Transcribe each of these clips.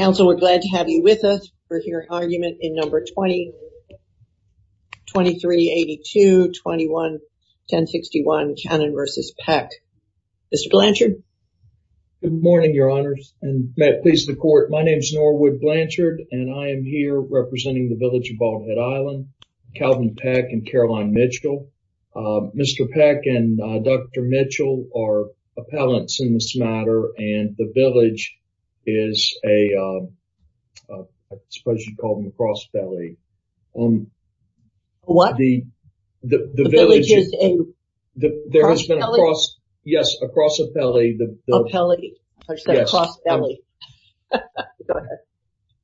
Council, we're glad to have you with us for your argument in number 2382-21-1061, Cannon v. Peck. Mr. Blanchard. Good morning, your honors, and may it please the court. My name is Norwood Blanchard, and I am here representing the village of Ballhead Island, Calvin Peck and Caroline Mitchell. Mr. Peck and Dr. Mitchell are appellants in this matter, and the village is a, I suppose you'd call them a cross-belly. What? The village is a cross-belly? Yes, a cross-belly. A pelly, I said a cross-belly. Go ahead.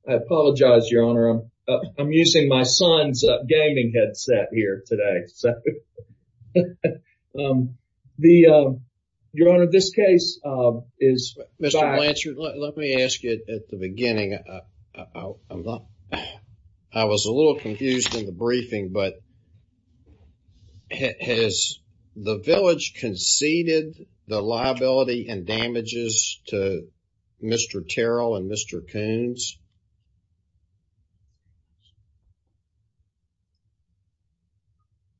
I apologize, your honor. I'm using my son's gaming headset here today. So, um, the, uh, your honor, this case, uh, is- Blanchard, let me ask you at the beginning, I'm not, I was a little confused in the briefing, but has the village conceded the liability and damages to Mr. Terrell and Mr. Coons?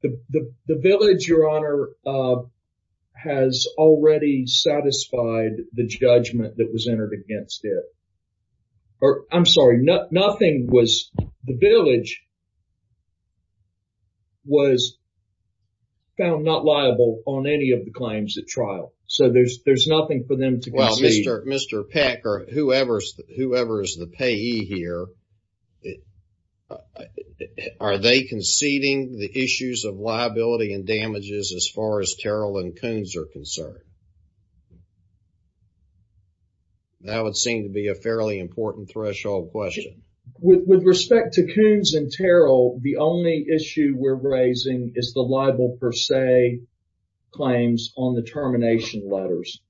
The village, your honor, uh, has already satisfied the judgment that was entered against it, or I'm sorry, nothing was, the village was found not liable on any of the claims at trial. So there's, there's nothing for them to concede. Well, Mr. Payee here, are they conceding the issues of liability and damages as far as Terrell and Coons are concerned? That would seem to be a fairly important threshold question. With respect to Coons and Terrell, the only issue we're raising is the liable per se claims on the termination letters.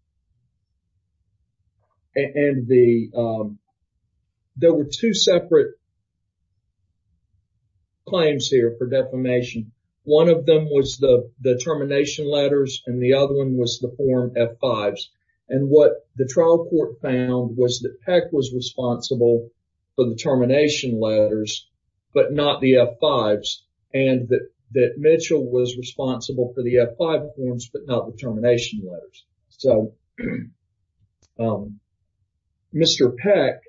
And the, um, there were two separate claims here for defamation. One of them was the termination letters and the other one was the form F-5s. And what the trial court found was that Peck was responsible for the termination letters, but not the F-5s, and that Mitchell was responsible for the F-5 forms, but not the termination letters. So, um, Mr. Peck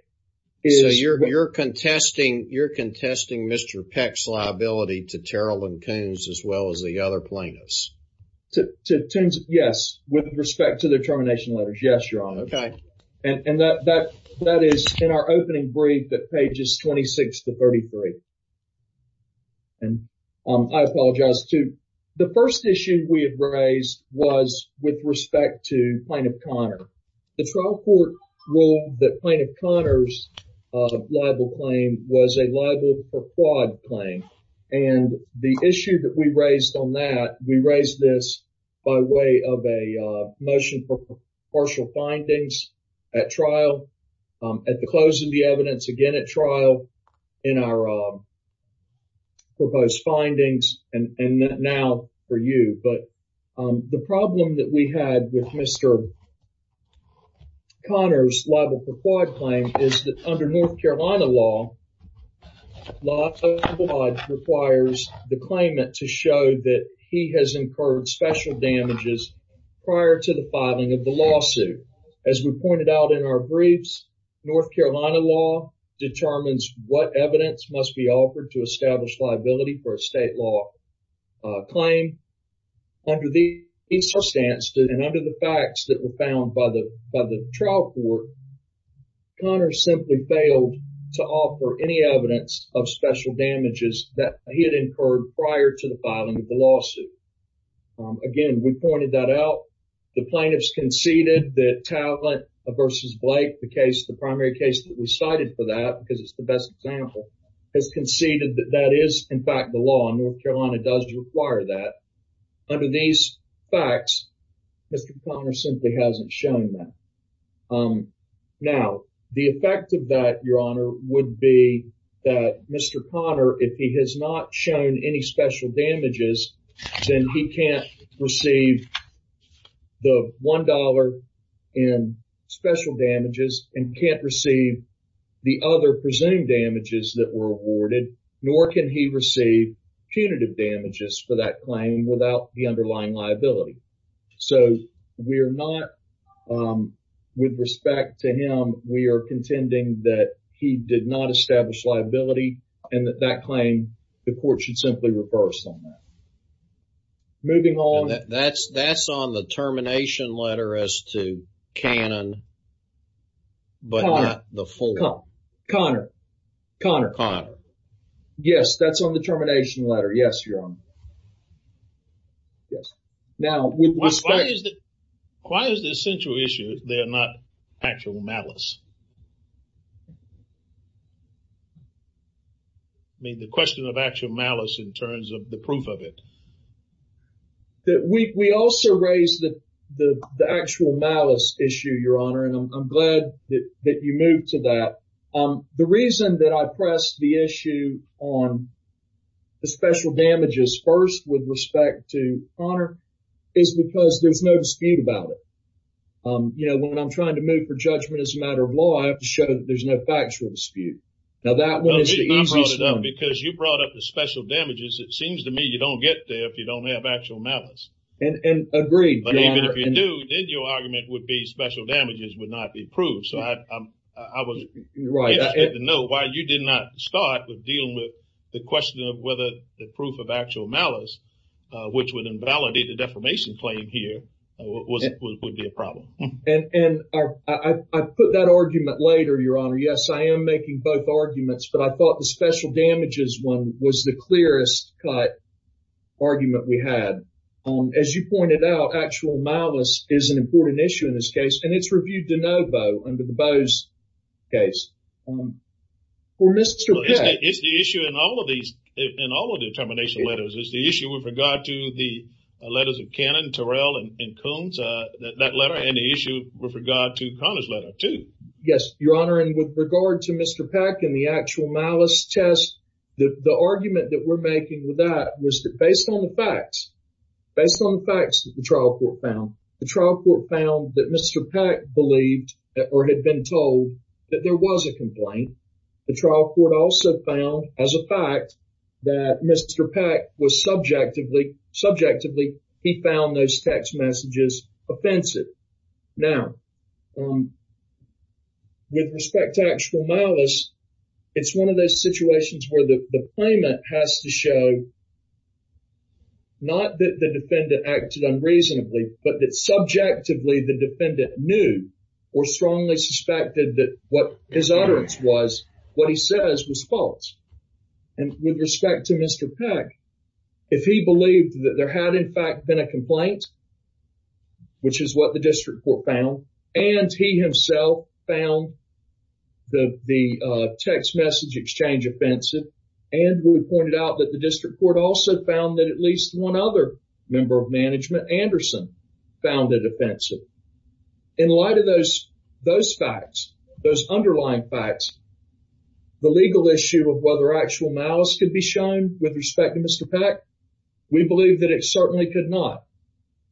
is... So you're, you're contesting, you're contesting Mr. Peck's liability to Terrell and Coons as well as the other plaintiffs? To Coons, yes. With respect to the termination letters, yes, Your Honor. Okay. And that, that, that is in our opening brief at pages 26 to 33. And I apologize, too. The first issue we have raised was with respect to Plaintiff Conner. The trial court ruled that Plaintiff Conner's liable claim was a liable per quad claim, and the issue that we raised on that, we raised this by way of a motion for partial findings at trial, at the close of the evidence, again at trial, in our proposed findings, and now for you. But the problem that we had with Mr. Conner's liable per quad claim is that under North Carolina law, liable per quad requires the claimant to show that he has incurred special damages prior to the filing of the lawsuit. As we pointed out in our briefs, North Carolina law determines what evidence must be offered to establish liability for a state law claim. Under these circumstances, and under the facts that were found by the, by the trial court, Conner simply failed to offer any evidence of special damages that he had incurred prior to the filing of the lawsuit. Again, we pointed that out. The plaintiffs conceded that Talent v. Blake, the case, the primary case that we conceded that that is, in fact, the law, and North Carolina does require that. Under these facts, Mr. Conner simply hasn't shown that. Now, the effect of that, Your Honor, would be that Mr. Conner, if he has not shown any special damages, then he can't receive the $1 in special damages and can't receive the other presumed damages that were awarded, nor can he receive punitive damages for that claim without the underlying liability. So, we are not, with respect to him, we are contending that he did not establish liability and that that claim, the court should simply reverse on that. Moving on. That's, that's on the termination letter as to Cannon, but not the full. Conner, Conner. Yes, that's on the termination letter. Yes, Your Honor. Yes. Now, with respect. Why is the essential issue that they are not actual malice? I mean, the question of actual malice in terms of the proof of it. That we also raised the actual malice issue, Your Honor, and I'm glad that you moved to that. The reason that I pressed the issue on the special damages first, with respect to Conner, is because there's no dispute about it. You know, when I'm trying to move for judgment as a matter of law, I have to show that there's no factual dispute. Now, that one is the easiest. Because you brought up the special damages. It seems to me you don't get there if you don't have actual malice. And agreed. But even if you do, then your argument would be special damages would not be proved. So I was right to know why you did not start with dealing with the question of whether the proof of actual malice, which would invalidate the defamation claim here, would be a problem. And I put that argument later, Your Honor. Yes, I am making both arguments. But I thought the special damages one was the clearest cut argument we had. As you pointed out, actual malice is an important issue in this case. And it's reviewed de novo under the Boe's case. For Mr. Peck. It's the issue in all of these, in all of the termination letters. It's the issue with regard to the letters of Cannon, Terrell, and Coons, that letter. And the issue with regard to Conner's letter, too. Yes, Your Honor. And with regard to Mr. Peck and the actual malice test, the argument that we're making with that was that based on the facts, based on the facts that the trial court found, the trial court found that Mr. Peck believed or had been told that there was a complaint. The trial court also found as a fact that Mr. Peck was subjectively, subjectively, he found those text messages offensive. Now, with respect to actual malice, it's one of those situations where the claimant has to show not that the defendant acted unreasonably, but that subjectively the defendant knew or strongly suspected that what his utterance was, what he says was false. And with respect to Mr. Peck, if he believed that there had in fact been a complaint, which is what the district court found, and he himself found the text message exchange offensive, and we pointed out that the district court also found that at least one other member of management, Anderson, found it offensive. In light of those facts, those underlying facts, the legal issue of whether actual malice could be shown with respect to Mr. Peck, we believe that it certainly could not.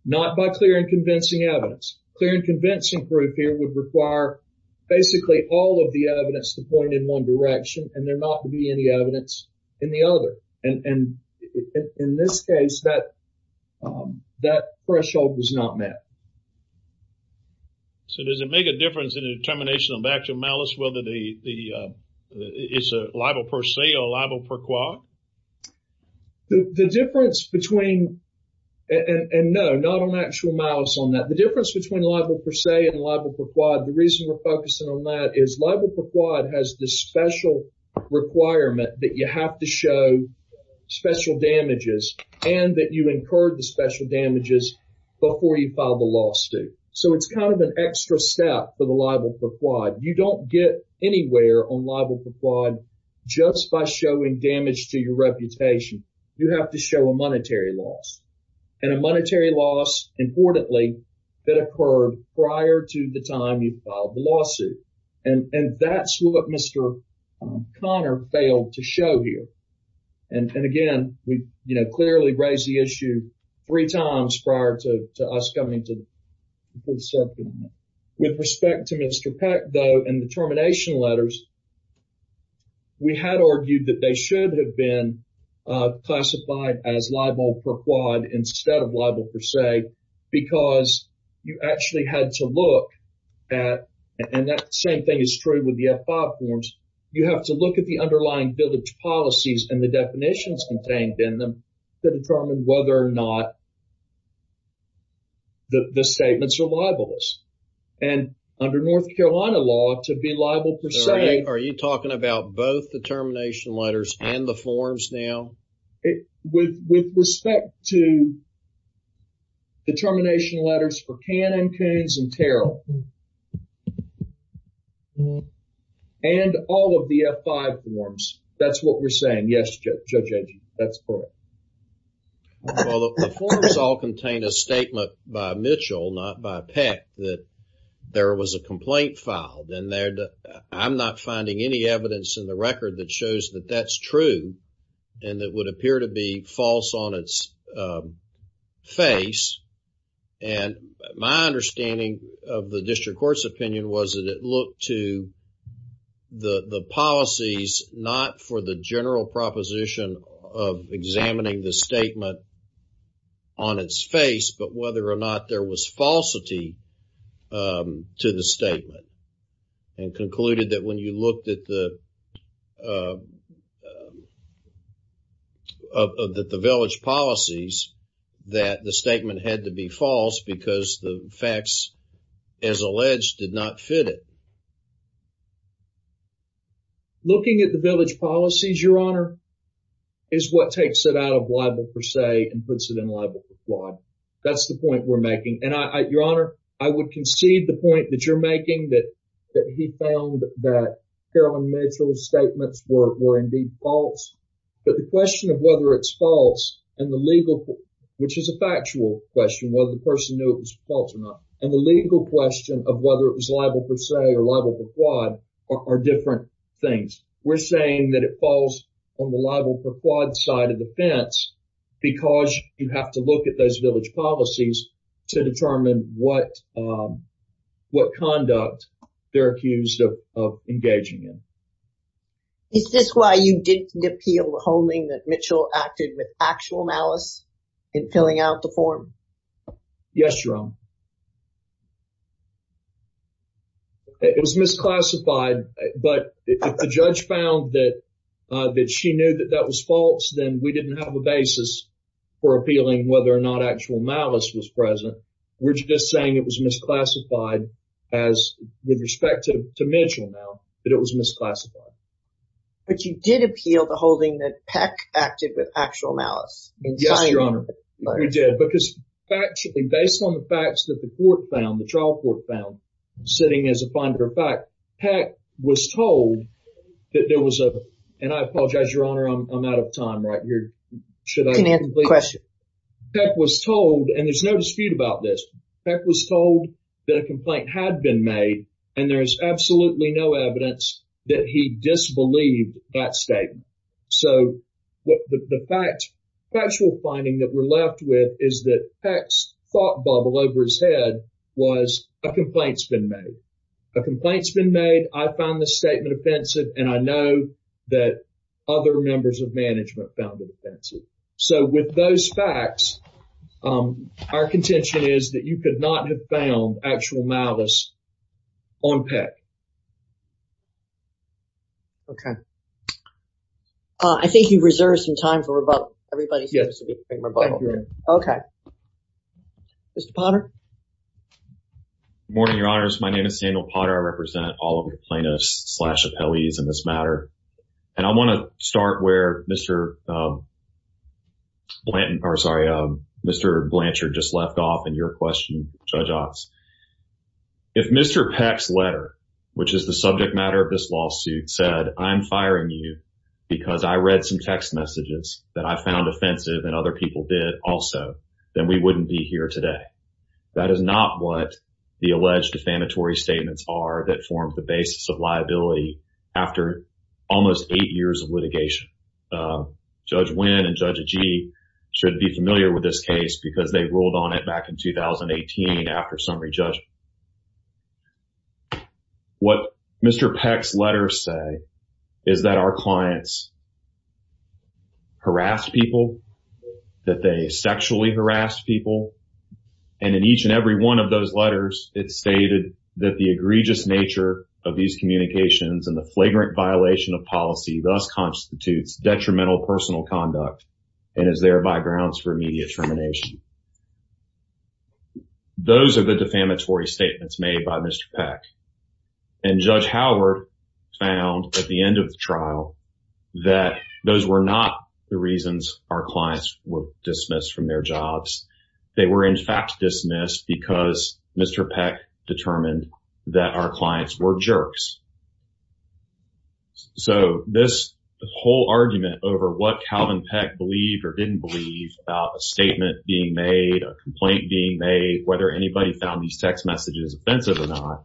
Not by clear and convincing evidence. Clear and convincing proof here would require basically all of the evidence to point in one direction and there not to be any evidence in the other. And in this case, that threshold was not met. So does it make a difference in the determination of actual malice whether or not? The difference between, and no, not on actual malice on that, the difference between libel per se and libel per quad, the reason we're focusing on that is libel per quad has this special requirement that you have to show special damages and that you incurred the special damages before you file the law suit. So it's kind of an extra step for the libel per quad. You don't get anywhere on libel per quad just by showing damage to your reputation. You have to show a monetary loss. And a monetary loss, importantly, that occurred prior to the time you filed the lawsuit. And that's what Mr. Connor failed to show here. And again, we clearly raised the issue three times prior to us coming to the subcommittee. With respect to Mr. Peck, though, in the termination letters, we had argued that they should have been classified as libel per quad instead of libel per se because you actually had to look at, and that same thing is true with the F-5 forms, you have to look at the underlying village policies and the definitions contained in them to determine whether or not the statements are libelous. And under North Carolina law, to be libel per se. Are you talking about both the termination letters and the forms now? With respect to the termination letters for Cannon, Coons, and Terrell, and all of the F-5 forms, that's what we're saying. Yes, Judge Edgerton, that's correct. Well, the forms all contain a statement by Mitchell, not by Peck, that there was a complaint filed and I'm not finding any evidence in the record that shows that that's true and that would appear to be false on its face. And my understanding of the district court's opinion was that it looked to the policies not for the general proposition of examining the statement on its face, but whether or not there was falsity to the statement. And concluded that when you looked at the village policies, that the statement had to be false because the facts, as alleged, did not fit it. Looking at the village policies, Your Honor, is what takes it out of libel per se and puts it in libel for fraud. That's the point we're making. And I, Your Honor, I would concede the point that you're making, that he found that Carolyn Mitchell's statements were indeed false. But the question of whether it's false and the legal, which is a factual question, whether the person knew it was false or not, and the legal question of whether it was libel per se or libel per fraud are different things. We're saying that it falls on the libel per fraud side of the fence because you have to look at those village policies to determine what conduct they're accused of engaging in. Is this why you didn't appeal the holding that Mitchell acted with actual malice in Yes, Your Honor. It was misclassified, but if the judge found that she knew that that was false, then we didn't have a basis for appealing whether or not actual malice was present. We're just saying it was misclassified as, with respect to Mitchell, now, that it was misclassified. But you did appeal the holding that Peck acted with actual malice. Yes, Your Honor, we did. Because, factually, based on the facts that the court found, the trial court found, sitting as a finder of fact, Peck was told that there was a, and I apologize, Your Honor, I'm out of time right here. Can I ask a question? Peck was told, and there's no dispute about this, Peck was told that a complaint had been made and there is absolutely no evidence that he disbelieved that statement. So, the factual finding that we're left with is that Peck's thought bubble over his head was a complaint's been made. A complaint's been made, I found this statement offensive, and I know that other members of management found it offensive. So, with those facts, our contention is that you could not have found actual malice on Peck. Okay. I think you reserved some time for rebuttal. Everybody seems to be taking rebuttal. Okay. Mr. Potter? Good morning, Your Honors. My name is Samuel Potter. I represent all of the plaintiffs slash appellees in this matter. And I want to start where Mr. Blanchard just left off in your question, Judge Otts. If Mr. Peck's letter, which is the subject matter of this lawsuit, said, I'm firing you because I read some text messages that I found offensive and other people did also, then we wouldn't be here today. That is not what the alleged defamatory statements are that form the basis of liability after almost eight years of litigation. Judge Wynn and Judge Agee should be familiar with this case because they ruled on it back in 2018 after summary judgment. What Mr. Peck's letters say is that our clients harass people, that they sexually harass people. And in each and every one of those letters, it stated that the egregious nature of these communications and the flagrant violation of policy thus constitutes detrimental personal conduct and is there by grounds for immediate termination. Those are the defamatory statements made by Mr. Peck. And Judge Howard found at the end of the trial that those were not the reasons our clients were dismissed from their jobs. They were in fact dismissed because Mr. Peck determined that our clients were jerks. So this whole argument over what Calvin Peck believed or didn't believe about a statement being made, a complaint being made, whether anybody found these text messages offensive or not,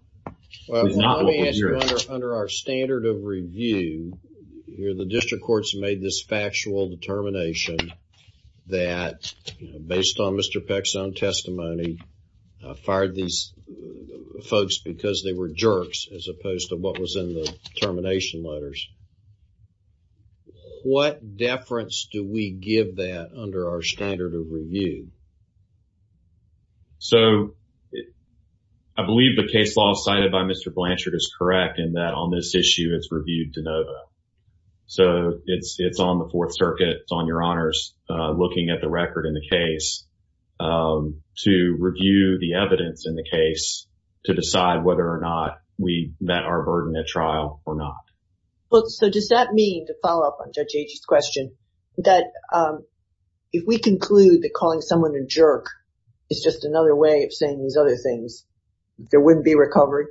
is not what we're hearing. Well, let me ask you, under our standard of review, the district courts made this factual determination that based on Mr. Peck's own testimony, fired these folks because they were jerks as opposed to what was in the termination letters. What deference do we give that under our standard of review? So I believe the case law cited by Mr. Blanchard is correct in that on this issue, it's reviewed de novo. So it's on the Fourth Circuit, it's on your honors looking at the record in the case to review the evidence in the case to decide whether or not we met our burden at trial or not. Well, so does that mean, to follow up on Judge Agee's question, that if we conclude that calling someone a jerk is just another way of saying these other things, there wouldn't be recovery?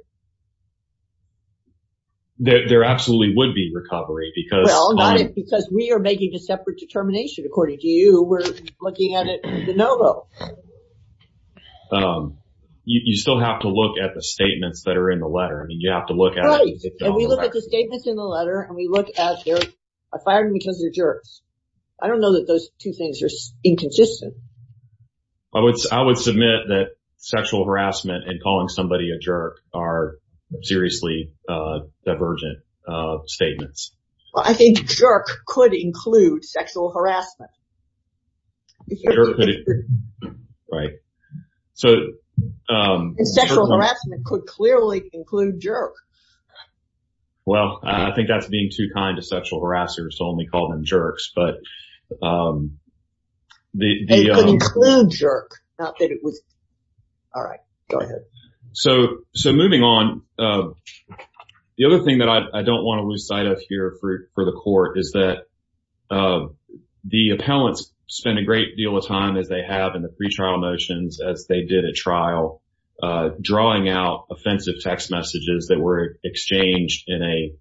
There absolutely would be recovery because- Well, not if, because we are making a separate determination. According to you, we're looking at it de novo. You still have to look at the statements that are in the letter. I mean, you have to look at- We look at the statements in the letter and we look at they're fired because they're jerks. I don't know that those two things are inconsistent. I would submit that sexual harassment and calling somebody a jerk are seriously divergent statements. Well, I think jerk could include sexual harassment. Right. So- Sexual harassment could clearly include jerk. Well, I think that's being too kind to sexual harassers to only call them jerks, but- It could include jerk, not that it was- All right, go ahead. So, moving on, the other thing that I don't want to lose sight of here for the court is that the appellants spend a great deal of time, as they have in the pretrial motions, as they did at trial, drawing out offensive text messages that were exchanged in a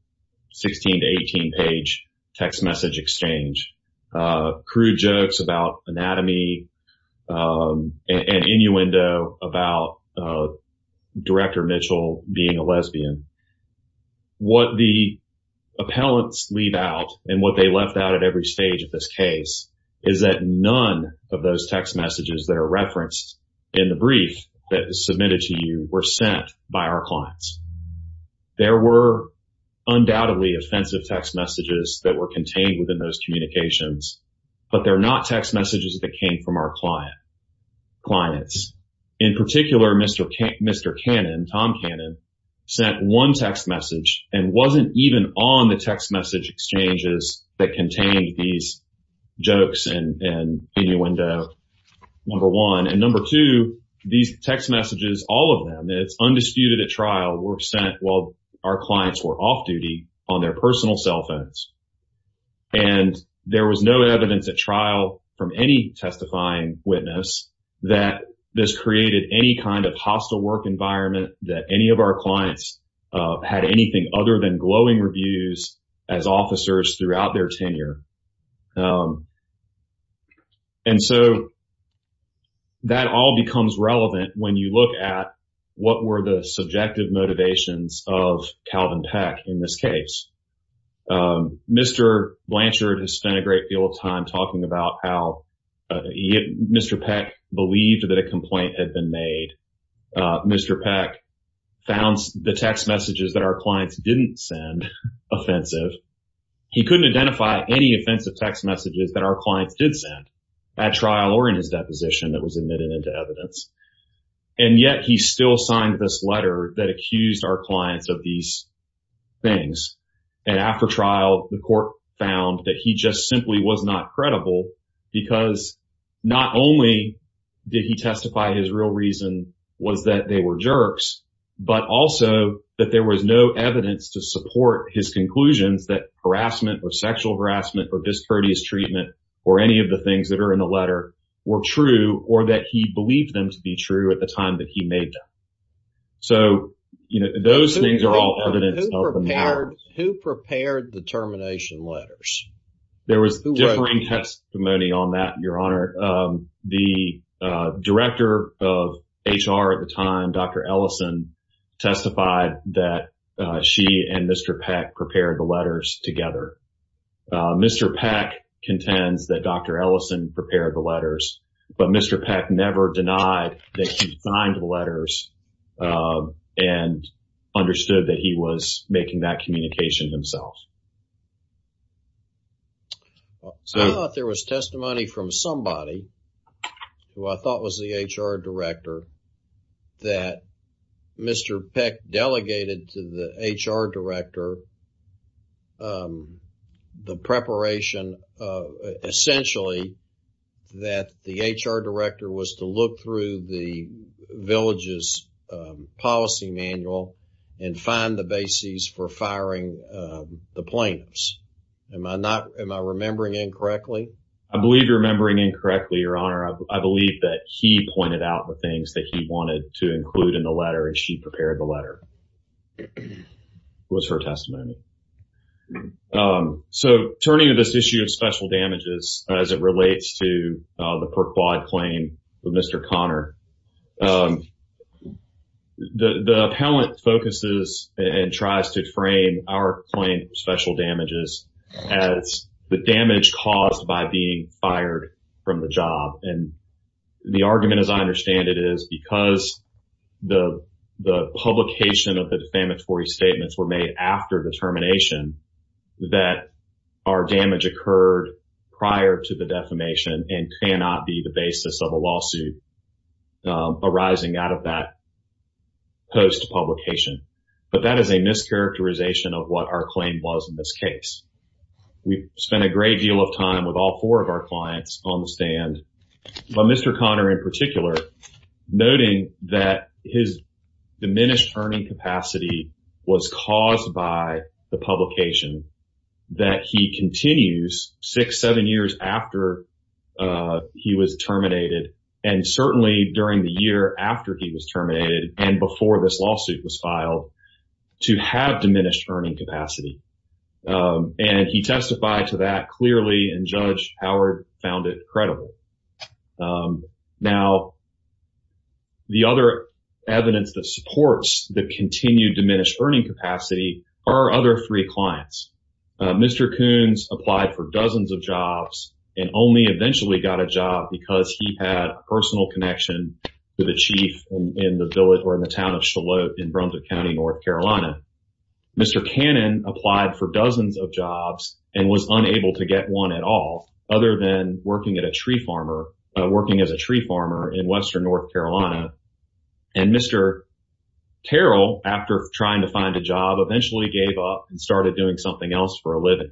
16 to 18 page text message exchange. Crude jokes about anatomy and innuendo about Director Mitchell being a lesbian. What the appellants leave out and what they left out at every stage of this case is that of those text messages that are referenced in the brief that was submitted to you were sent by our clients. There were undoubtedly offensive text messages that were contained within those communications, but they're not text messages that came from our client- clients. In particular, Mr. Cannon, Tom Cannon, sent one text message and wasn't even on the text window, number one. And number two, these text messages, all of them, it's undisputed at trial, were sent while our clients were off duty on their personal cell phones. And there was no evidence at trial from any testifying witness that this created any kind of hostile work environment that any of our clients had anything other than glowing reviews as officers throughout their tenure. And so, that all becomes relevant when you look at what were the subjective motivations of Calvin Peck in this case. Mr. Blanchard has spent a great deal of time talking about how Mr. Peck believed that a complaint had been made. Mr. Peck found the text messages that our clients didn't send offensive. He couldn't identify any offensive text messages that our clients did send at trial or in his deposition that was admitted into evidence. And yet, he still signed this letter that accused our clients of these things. And after trial, the court found that he just simply was not credible because not only did he testify his real reason was that they were jerks, but also that there was no evidence to that harassment or sexual harassment or discourteous treatment or any of the things that are in the letter were true or that he believed them to be true at the time that he made them. So, you know, those things are all evidence. Who prepared the termination letters? There was differing testimony on that, Your Honor. The director of HR at the time, Dr. Ellison, testified that she and Mr. Peck prepared the letters together. Mr. Peck contends that Dr. Ellison prepared the letters, but Mr. Peck never denied that he signed the letters and understood that he was making that communication himself. I thought there was testimony from somebody who I thought was the HR director that Mr. Peck delegated to the HR director the preparation, essentially, that the HR director was to look through the village's policy manual and find the basis for firing the plaintiffs. Am I remembering incorrectly? I believe you're remembering incorrectly, Your Honor. I believe that he pointed out the things that he wanted to include in the letter, and she prepared the letter was her testimony. So, turning to this issue of special damages as it relates to the Perquad claim with Mr. Connor, the appellant focuses and tries to frame our claim of special damages as the damage caused by being fired from the job. The argument, as I understand it, is because the publication of the defamatory statements were made after the termination, that our damage occurred prior to the defamation and cannot be the basis of a lawsuit arising out of that post-publication. But that is a mischaracterization of what our claim was in this case. We spent a great deal of time with all four of our clients on the stand, but Mr. Connor in particular, noting that his diminished earning capacity was caused by the publication, that he continues six, seven years after he was terminated, and certainly during the year after he was terminated and before this lawsuit was filed, to have diminished earning capacity. And he testified to that clearly, and Judge Howard found it credible. Now, the other evidence that supports the continued diminished earning capacity are our other three clients. Mr. Coons applied for dozens of jobs and only eventually got a job because he had a personal connection to the chief in the village or in the town of Shallote in Brunswick County, North Carolina. Mr. Cannon applied for dozens of jobs and was unable to get one at all other than working at a tree farmer, working as a tree farmer in western North Carolina. And Mr. Carroll, after trying to find a job, eventually gave up and started doing something else for a living.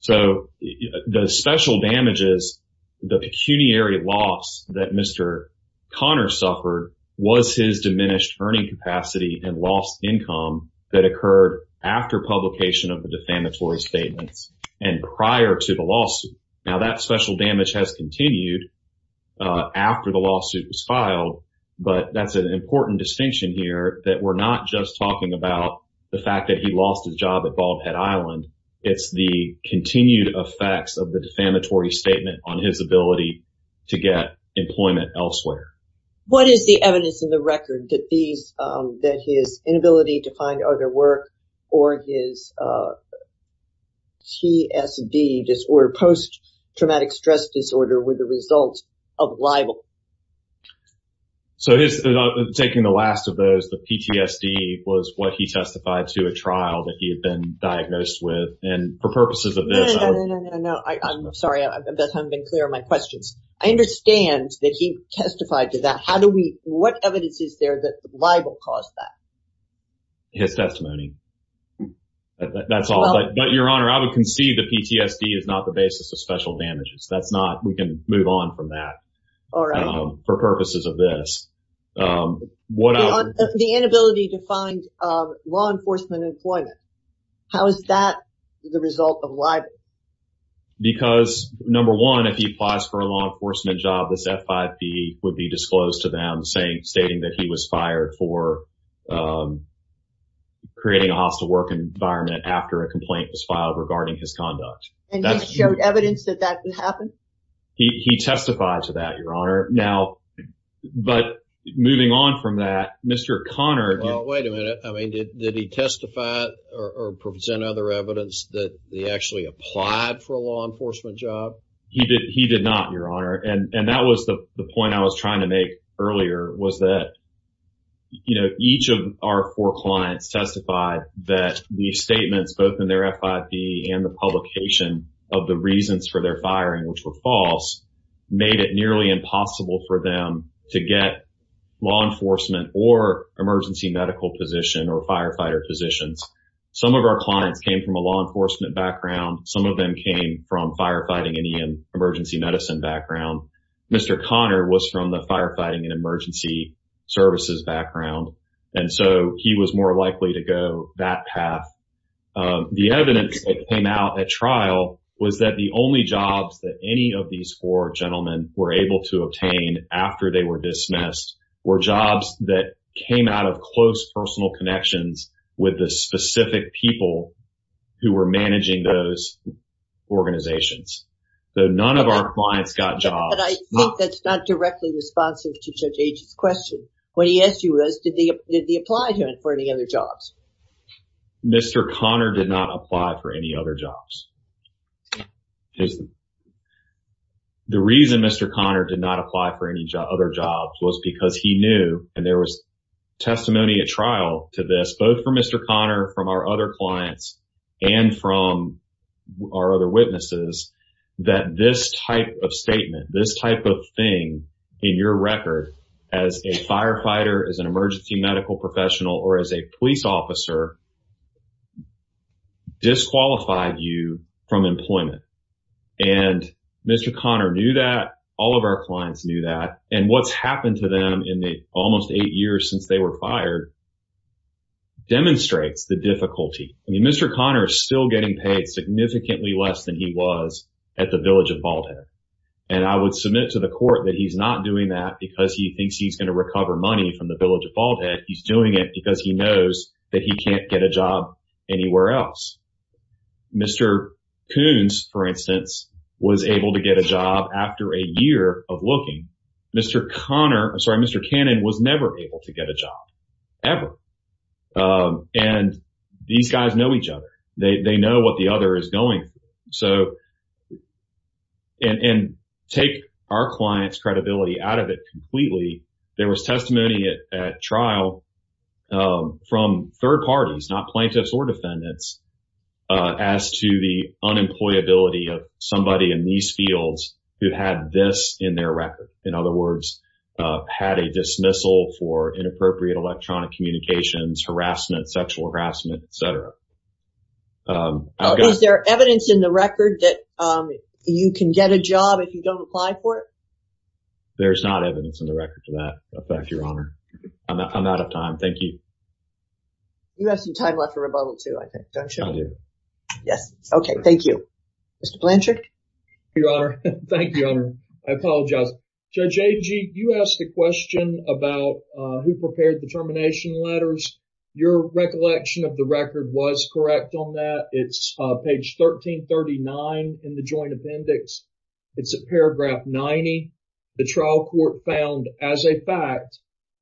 So the special damages, the pecuniary loss that Mr. Connor suffered was his diminished earning capacity and lost income that occurred after publication of the defamatory statements and prior to the lawsuit. Now, that special damage has continued after the lawsuit was filed, but that's an important distinction here that we're not just talking about the fact that he lost his job at Bald Head Island. It's the continued effects of the defamatory statement on his ability to get employment elsewhere. What is the evidence in the record that his inability to find other work or his PTSD disorder, post-traumatic stress disorder, were the result of libel? So taking the last of those, the PTSD was what he testified to a trial that he had been diagnosed with. And for purposes of this... No, no, no, no, no, no. I'm sorry. I hope I haven't been clear on my questions. I understand that he testified to that. How do we... What evidence is there that libel caused that? His testimony. That's all. But Your Honor, I would concede that PTSD is not the basis of special damages. That's not... We can move on from that for purposes of this. The inability to find law enforcement employment. How is that the result of libel? Because, number one, if he applies for a law enforcement job, this F5P would be disclosed to them stating that he was fired for creating a hostile work environment after a complaint was filed regarding his conduct. And he showed evidence that that could happen? He testified to that, Your Honor. Now, but moving on from that, Mr. Connor... Well, wait a minute. Did he testify or present other evidence that he actually applied for a law enforcement job? He did not, Your Honor. And that was the point I was trying to make earlier, was that each of our four clients testified that the statements, both in their F5P and the publication of the reasons for their firing, which were false, made it nearly impossible for them to get law enforcement or emergency medical position or firefighter positions. Some of our clients came from a law enforcement background. Some of them came from firefighting and emergency medicine background. Mr. Connor was from the firefighting and emergency services background. And so he was more likely to go that path. The evidence that came out at trial was that the only jobs that any of these four gentlemen were able to obtain after they were dismissed were jobs that came out of close personal connections with the specific people who were managing those organizations. So none of our clients got jobs. But I think that's not directly responsive to Judge Agy's question. What he asked you was, did they apply to him for any other jobs? Mr. Connor did not apply for any other jobs. The reason Mr. Connor did not apply for any other jobs was because he knew, and there was testimony at trial to this, both for Mr. Connor, from our other clients, and from our other witnesses, that this type of statement, this type of thing in your record as a firefighter, as an emergency medical professional, or as a police officer, disqualified you from any employment. And Mr. Connor knew that. All of our clients knew that. And what's happened to them in the almost eight years since they were fired demonstrates the difficulty. I mean, Mr. Connor is still getting paid significantly less than he was at the Village of Bald Head. And I would submit to the court that he's not doing that because he thinks he's going to recover money from the Village of Bald Head. He's doing it because he knows that he can't get a job anywhere else. Mr. Coons, for instance, was able to get a job after a year of looking. Mr. Connor, I'm sorry, Mr. Cannon was never able to get a job, ever. And these guys know each other. They know what the other is going through. So, and take our client's credibility out of it completely. There was testimony at trial from third parties, not plaintiffs or defendants, as to the unemployability of somebody in these fields who had this in their record. In other words, had a dismissal for inappropriate electronic communications, harassment, sexual harassment, etc. Is there evidence in the record that you can get a job if you don't apply for it? There's not evidence in the record to that effect, Your Honor. I'm out of time. Thank you. You have some time left for rebuttal, too, I think, don't you? I do. Yes. Okay. Thank you. Mr. Blanchard? Your Honor. Thank you, Honor. I apologize. Judge Agee, you asked a question about who prepared the termination letters. Your recollection of the record was correct on that. It's page 1339 in the Joint Appendix. It's at paragraph 90. The trial court found as a fact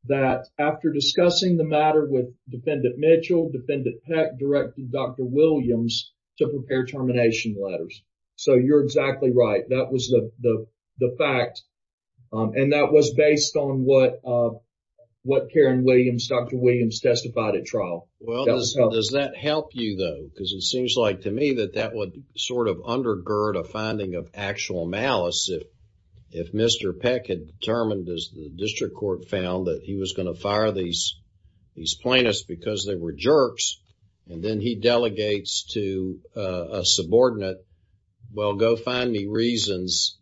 that after discussing the matter with Defendant Mitchell, Defendant Peck directed Dr. Williams to prepare termination letters. So, you're exactly right. That was the fact. And that was based on what Karen Williams, Dr. Williams testified at trial. Well, does that help you, though? Because it seems like to me that that would sort of undergird a finding of actual malice if Mr. Peck had determined, as the district court found, that he was going to fire these plaintiffs because they were jerks, and then he delegates to a subordinate, well, go find me reasons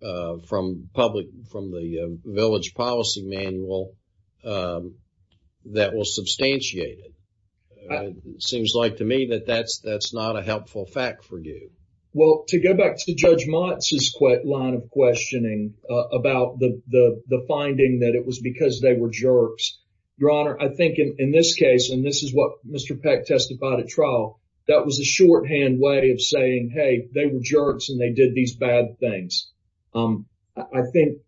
from the village policy manual that will substantiate it. Seems like to me that that's not a helpful fact for you. Well, to go back to Judge Motz's line of questioning about the finding that it was because they were jerks, Your Honor, I think in this case, and this is what Mr. Peck testified at trial, that was a shorthand way of saying, hey, they were jerks and they did these bad things. I think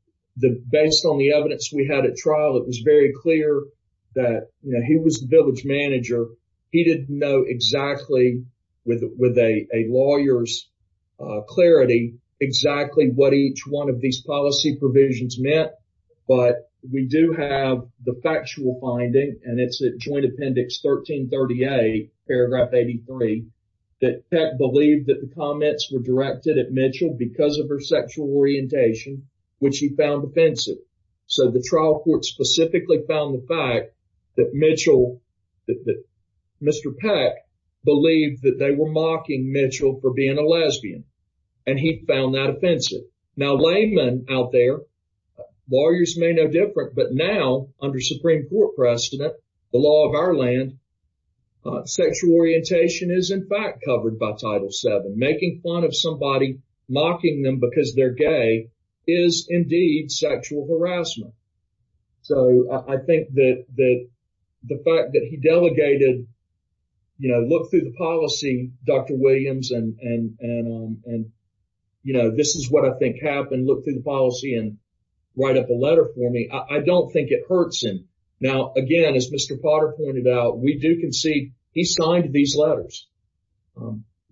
based on the evidence we had at trial, it was very clear that he was the village manager. He didn't know exactly, with a lawyer's clarity, exactly what each one of these policy provisions meant. But we do have the factual finding, and it's at Joint Appendix 1330A, paragraph 83, that Peck believed that the comments were directed at Mitchell because of her sexual orientation, which he found offensive. So the trial court specifically found the fact that Mitchell, that Mr. Peck believed that they were mocking Mitchell for being a lesbian, and he found that offensive. Now, laymen out there, lawyers may know different, but now, under Supreme Court precedent, the law of our land, sexual orientation is in fact covered by Title VII. Making fun of somebody, mocking them because they're gay, is indeed sexual harassment. So I think that the fact that he delegated, you know, look through the policy, Dr. Williams, and, you know, this is what I think happened, look through the policy and write up a letter for me, I don't think it hurts him. Now, again, as Mr. Potter pointed out, we do concede he signed these letters.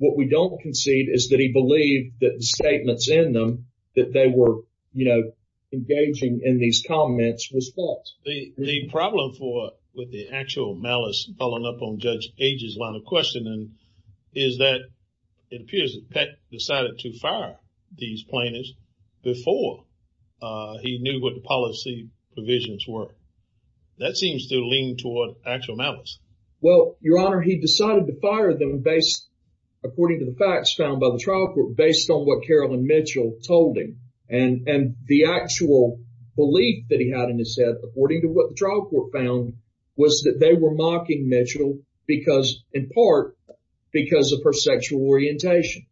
What we don't concede is that he believed that the statements in them, that they were, you know, engaging in these comments, was false. The problem for, with the actual malice following up on Judge Gage's line of questioning, is that it appears that Peck decided to fire these plaintiffs before he knew what the policy provisions were. That seems to lean toward actual malice. Well, Your Honor, he decided to fire them based, according to the facts found by the trial court, based on what Carolyn Mitchell told him. And the actual belief that he had in his head, according to what the trial court found, was that they were mocking Mitchell because, in part, because of her sexual orientation.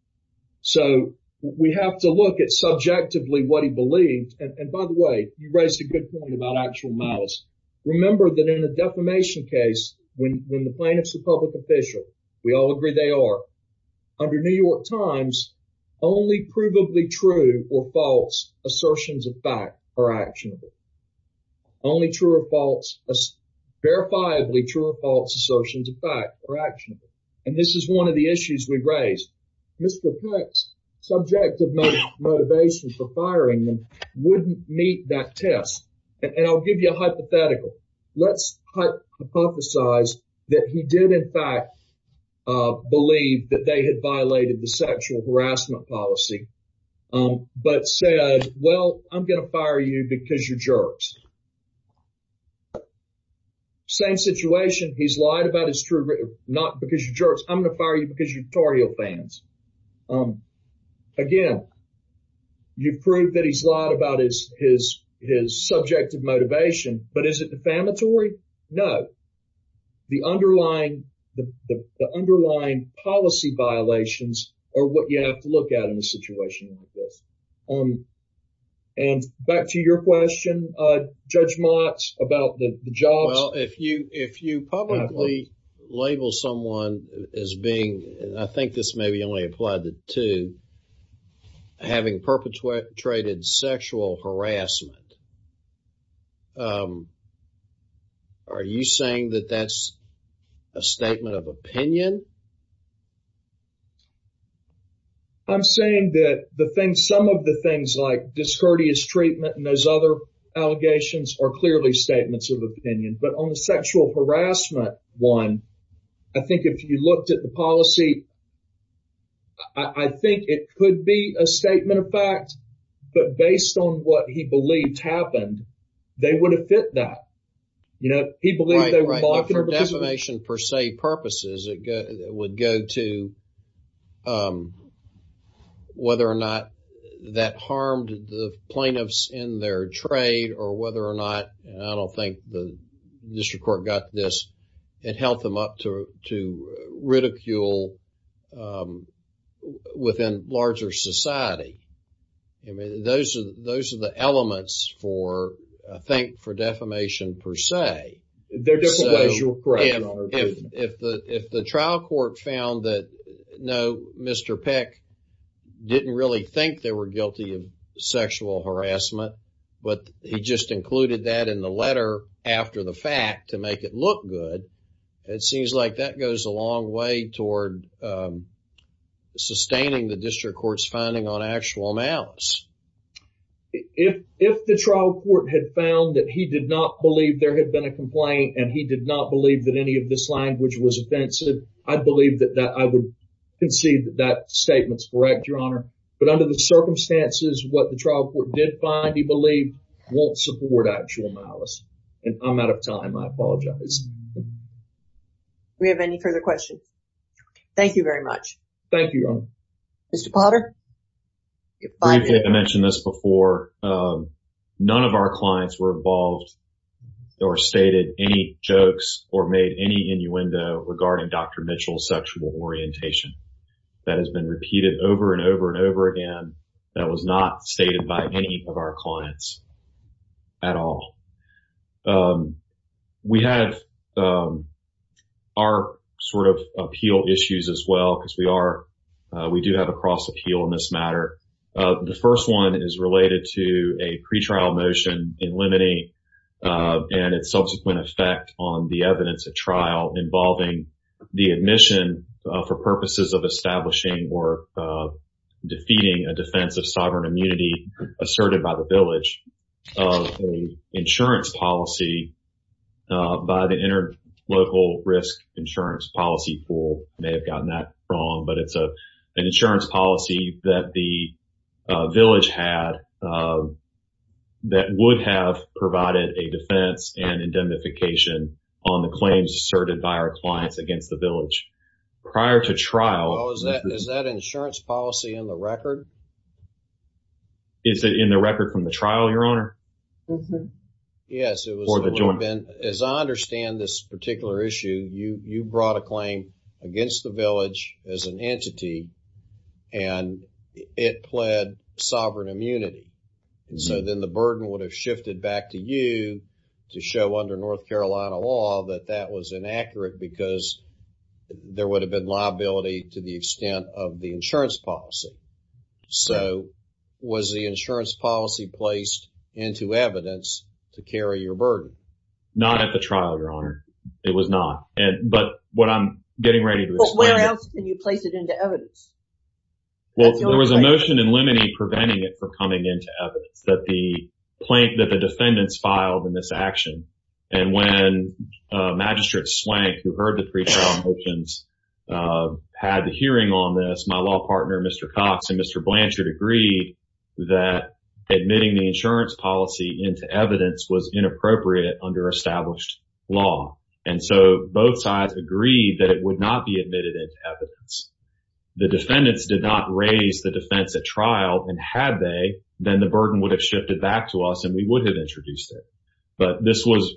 So we have to look at subjectively what he believed. And by the way, you raised a good point about actual malice. Remember that in a defamation case, when the plaintiff's a public official, we all agree they are, under New York Times, only provably true or false assertions of fact are actionable. Only true or false, verifiably true or false assertions of fact are actionable. And this is one of the issues we've raised. Mr. Peck's subjective motivation for firing them wouldn't meet that test. And I'll give you a hypothetical. Let's hypothesize that he did, in fact, believe that they had violated the sexual harassment policy, but said, well, I'm going to fire you because you're jerks. Same situation. He's lied about his true—not because you're jerks. I'm going to fire you because you're tutorial fans. Again, you've proved that he's lied about his subjective motivation. But is it defamatory? No. The underlying policy violations are what you have to look at in a situation like this. And back to your question, Judge Mott, about the jobs. If you publicly label someone as being—and I think this maybe only applied to having perpetrated sexual harassment, are you saying that that's a statement of opinion? I'm saying that some of the things like discourteous treatment and those other allegations are clearly statements of opinion. But on the sexual harassment one, I think if you looked at the policy, I think it could be a statement of fact. But based on what he believed happened, they would have fit that. You know, he believed they were— Right, right. But for defamation per se purposes, it would go to whether or not that harmed the plaintiffs in their trade or whether or not, and I don't think the district court got this, it held them up to ridicule within larger society. I mean, those are the elements for, I think, for defamation per se. There are different ways you're correcting— If the trial court found that, no, Mr. Peck didn't really think they were guilty of sexual harassment, but he just included that in the letter after the fact to make it look good, it seems like that goes a long way toward sustaining the district court's finding on actual amounts. If the trial court had found that he did not believe there had been a complaint and he did not believe that any of this language was offensive, I believe that I would concede that that statement's correct, Your Honor. But under the circumstances, what the trial court did find, he believed, won't support actual malice. And I'm out of time. I apologize. We have any further questions? Thank you very much. Thank you, Your Honor. Mr. Potter? I mentioned this before. None of our clients were involved or stated any jokes or made any innuendo regarding Dr. That was not stated by any of our clients at all. We have our sort of appeal issues as well, because we do have a cross-appeal in this matter. The first one is related to a pretrial motion in Lemony and its subsequent effect on the defense of sovereign immunity asserted by the village of an insurance policy by the Interlocal Risk Insurance Policy Pool. I may have gotten that wrong, but it's an insurance policy that the village had that would have provided a defense and indemnification on the claims asserted by our clients against the village. Prior to trial... Is that insurance policy in the record? Is it in the record from the trial, Your Honor? Yes, it was. As I understand this particular issue, you brought a claim against the village as an entity, and it pled sovereign immunity. So then the burden would have shifted back to you to show under North Carolina law that that was inaccurate because there would have been liability to the extent of the insurance policy. So was the insurance policy placed into evidence to carry your burden? Not at the trial, Your Honor. It was not. But what I'm getting ready to explain... Well, where else can you place it into evidence? Well, there was a motion in Lemony preventing it from coming into evidence that the plaintiff, that the defendants filed in this action. And when Magistrate Swank, who heard the pre-trial motions, had the hearing on this, my law partner, Mr. Cox and Mr. Blanchard agreed that admitting the insurance policy into evidence was inappropriate under established law. And so both sides agreed that it would not be admitted into evidence. The defendants did not raise the defense at trial. And had they, then the burden would have shifted back to us and we would have introduced it. But this was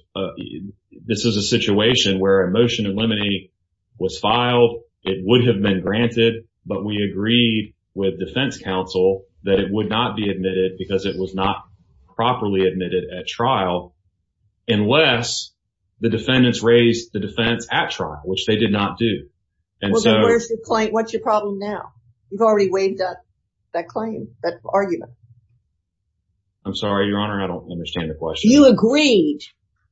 a situation where a motion in Lemony was filed. It would have been granted. But we agreed with defense counsel that it would not be admitted because it was not properly admitted at trial unless the defendants raised the defense at trial, which they did not do. And so... What's your problem now? You've already waived that claim, that argument. I'm sorry, Your Honor. I don't understand the question. You agreed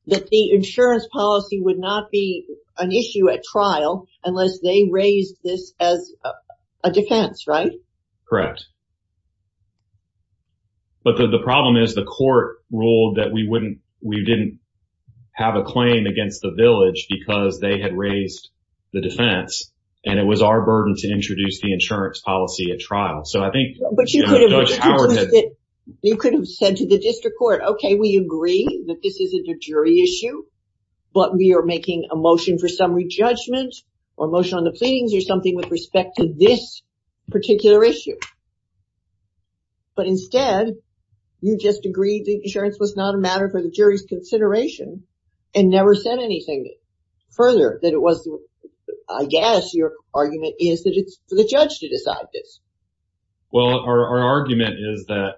that the insurance policy would not be an issue at trial unless they raised this as a defense, right? Correct. But the problem is the court ruled that we didn't have a claim against the village because they had raised the defense and it was our burden to introduce the insurance policy at trial. So I think... You could have said to the district court, okay, we agree that this isn't a jury issue, but we are making a motion for summary judgment or motion on the pleadings or something with respect to this particular issue. But instead, you just agreed the insurance was not a matter for the jury's consideration and never said anything further that it was... I guess your argument is that it's for the judge to decide this. Well, our argument is that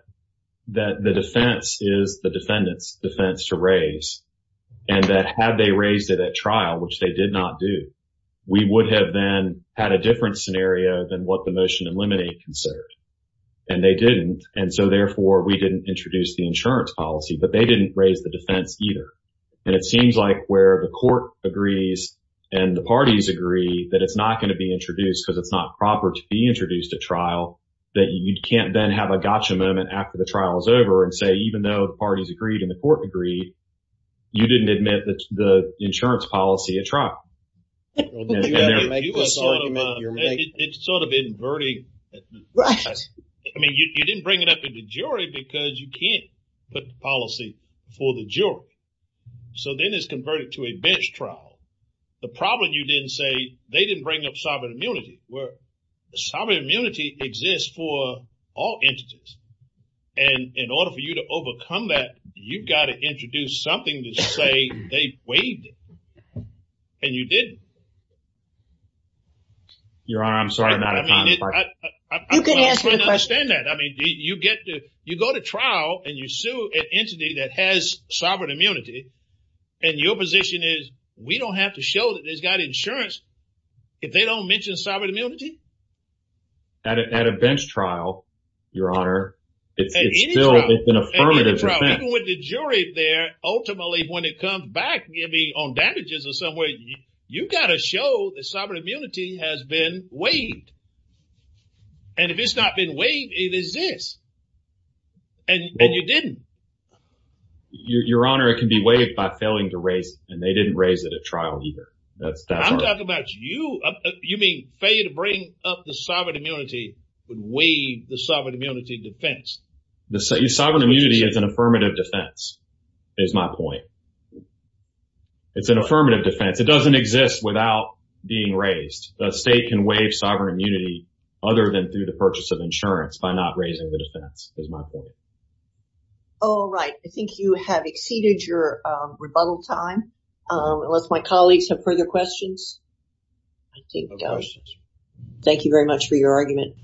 the defense is the defendant's defense to raise and that had they raised it at trial, which they did not do, we would have then had a different scenario than what the motion in limine considered. And they didn't. And so therefore, we didn't introduce the insurance policy, but they didn't raise the defense either. And it seems like where the court agrees and the parties agree that it's not going to be introduced because it's not proper to be introduced at trial, that you can't then have a gotcha moment after the trial is over and say, even though the parties agreed and the court agreed, you didn't admit the insurance policy at trial. It's sort of inverting. I mean, you didn't bring it up in the jury because you can't put the policy for the jury. So then it's converted to a bench trial. The problem you didn't say they didn't bring up sovereign immunity, where sovereign immunity exists for all entities. And in order for you to overcome that, you've got to introduce something to say they waived it. And you didn't. Your Honor, I'm sorry. I mean, I understand that. I mean, you get to you go to trial and you sue an entity that has sovereign immunity. And your position is we don't have to show that it's got insurance. If they don't mention sovereign immunity. At a bench trial, Your Honor, it's still an affirmative. Even with the jury there, ultimately, when it comes back, maybe on damages or somewhere, you've got to show the sovereign immunity has been waived. And if it's not been waived, it exists. And you didn't. Your Honor, it can be waived by failing to raise. And they didn't raise it at trial either. I'm talking about you. You mean failure to bring up the sovereign immunity would waive the sovereign immunity defense? Sovereign immunity is an affirmative defense, is my point. It's an affirmative defense. It doesn't exist without being raised. The state can waive sovereign immunity other than through the purchase of insurance by not raising the defense, is my point. All right. I think you have exceeded your rebuttal time. Unless my colleagues have further questions, I think we're done. Thank you very much for your argument.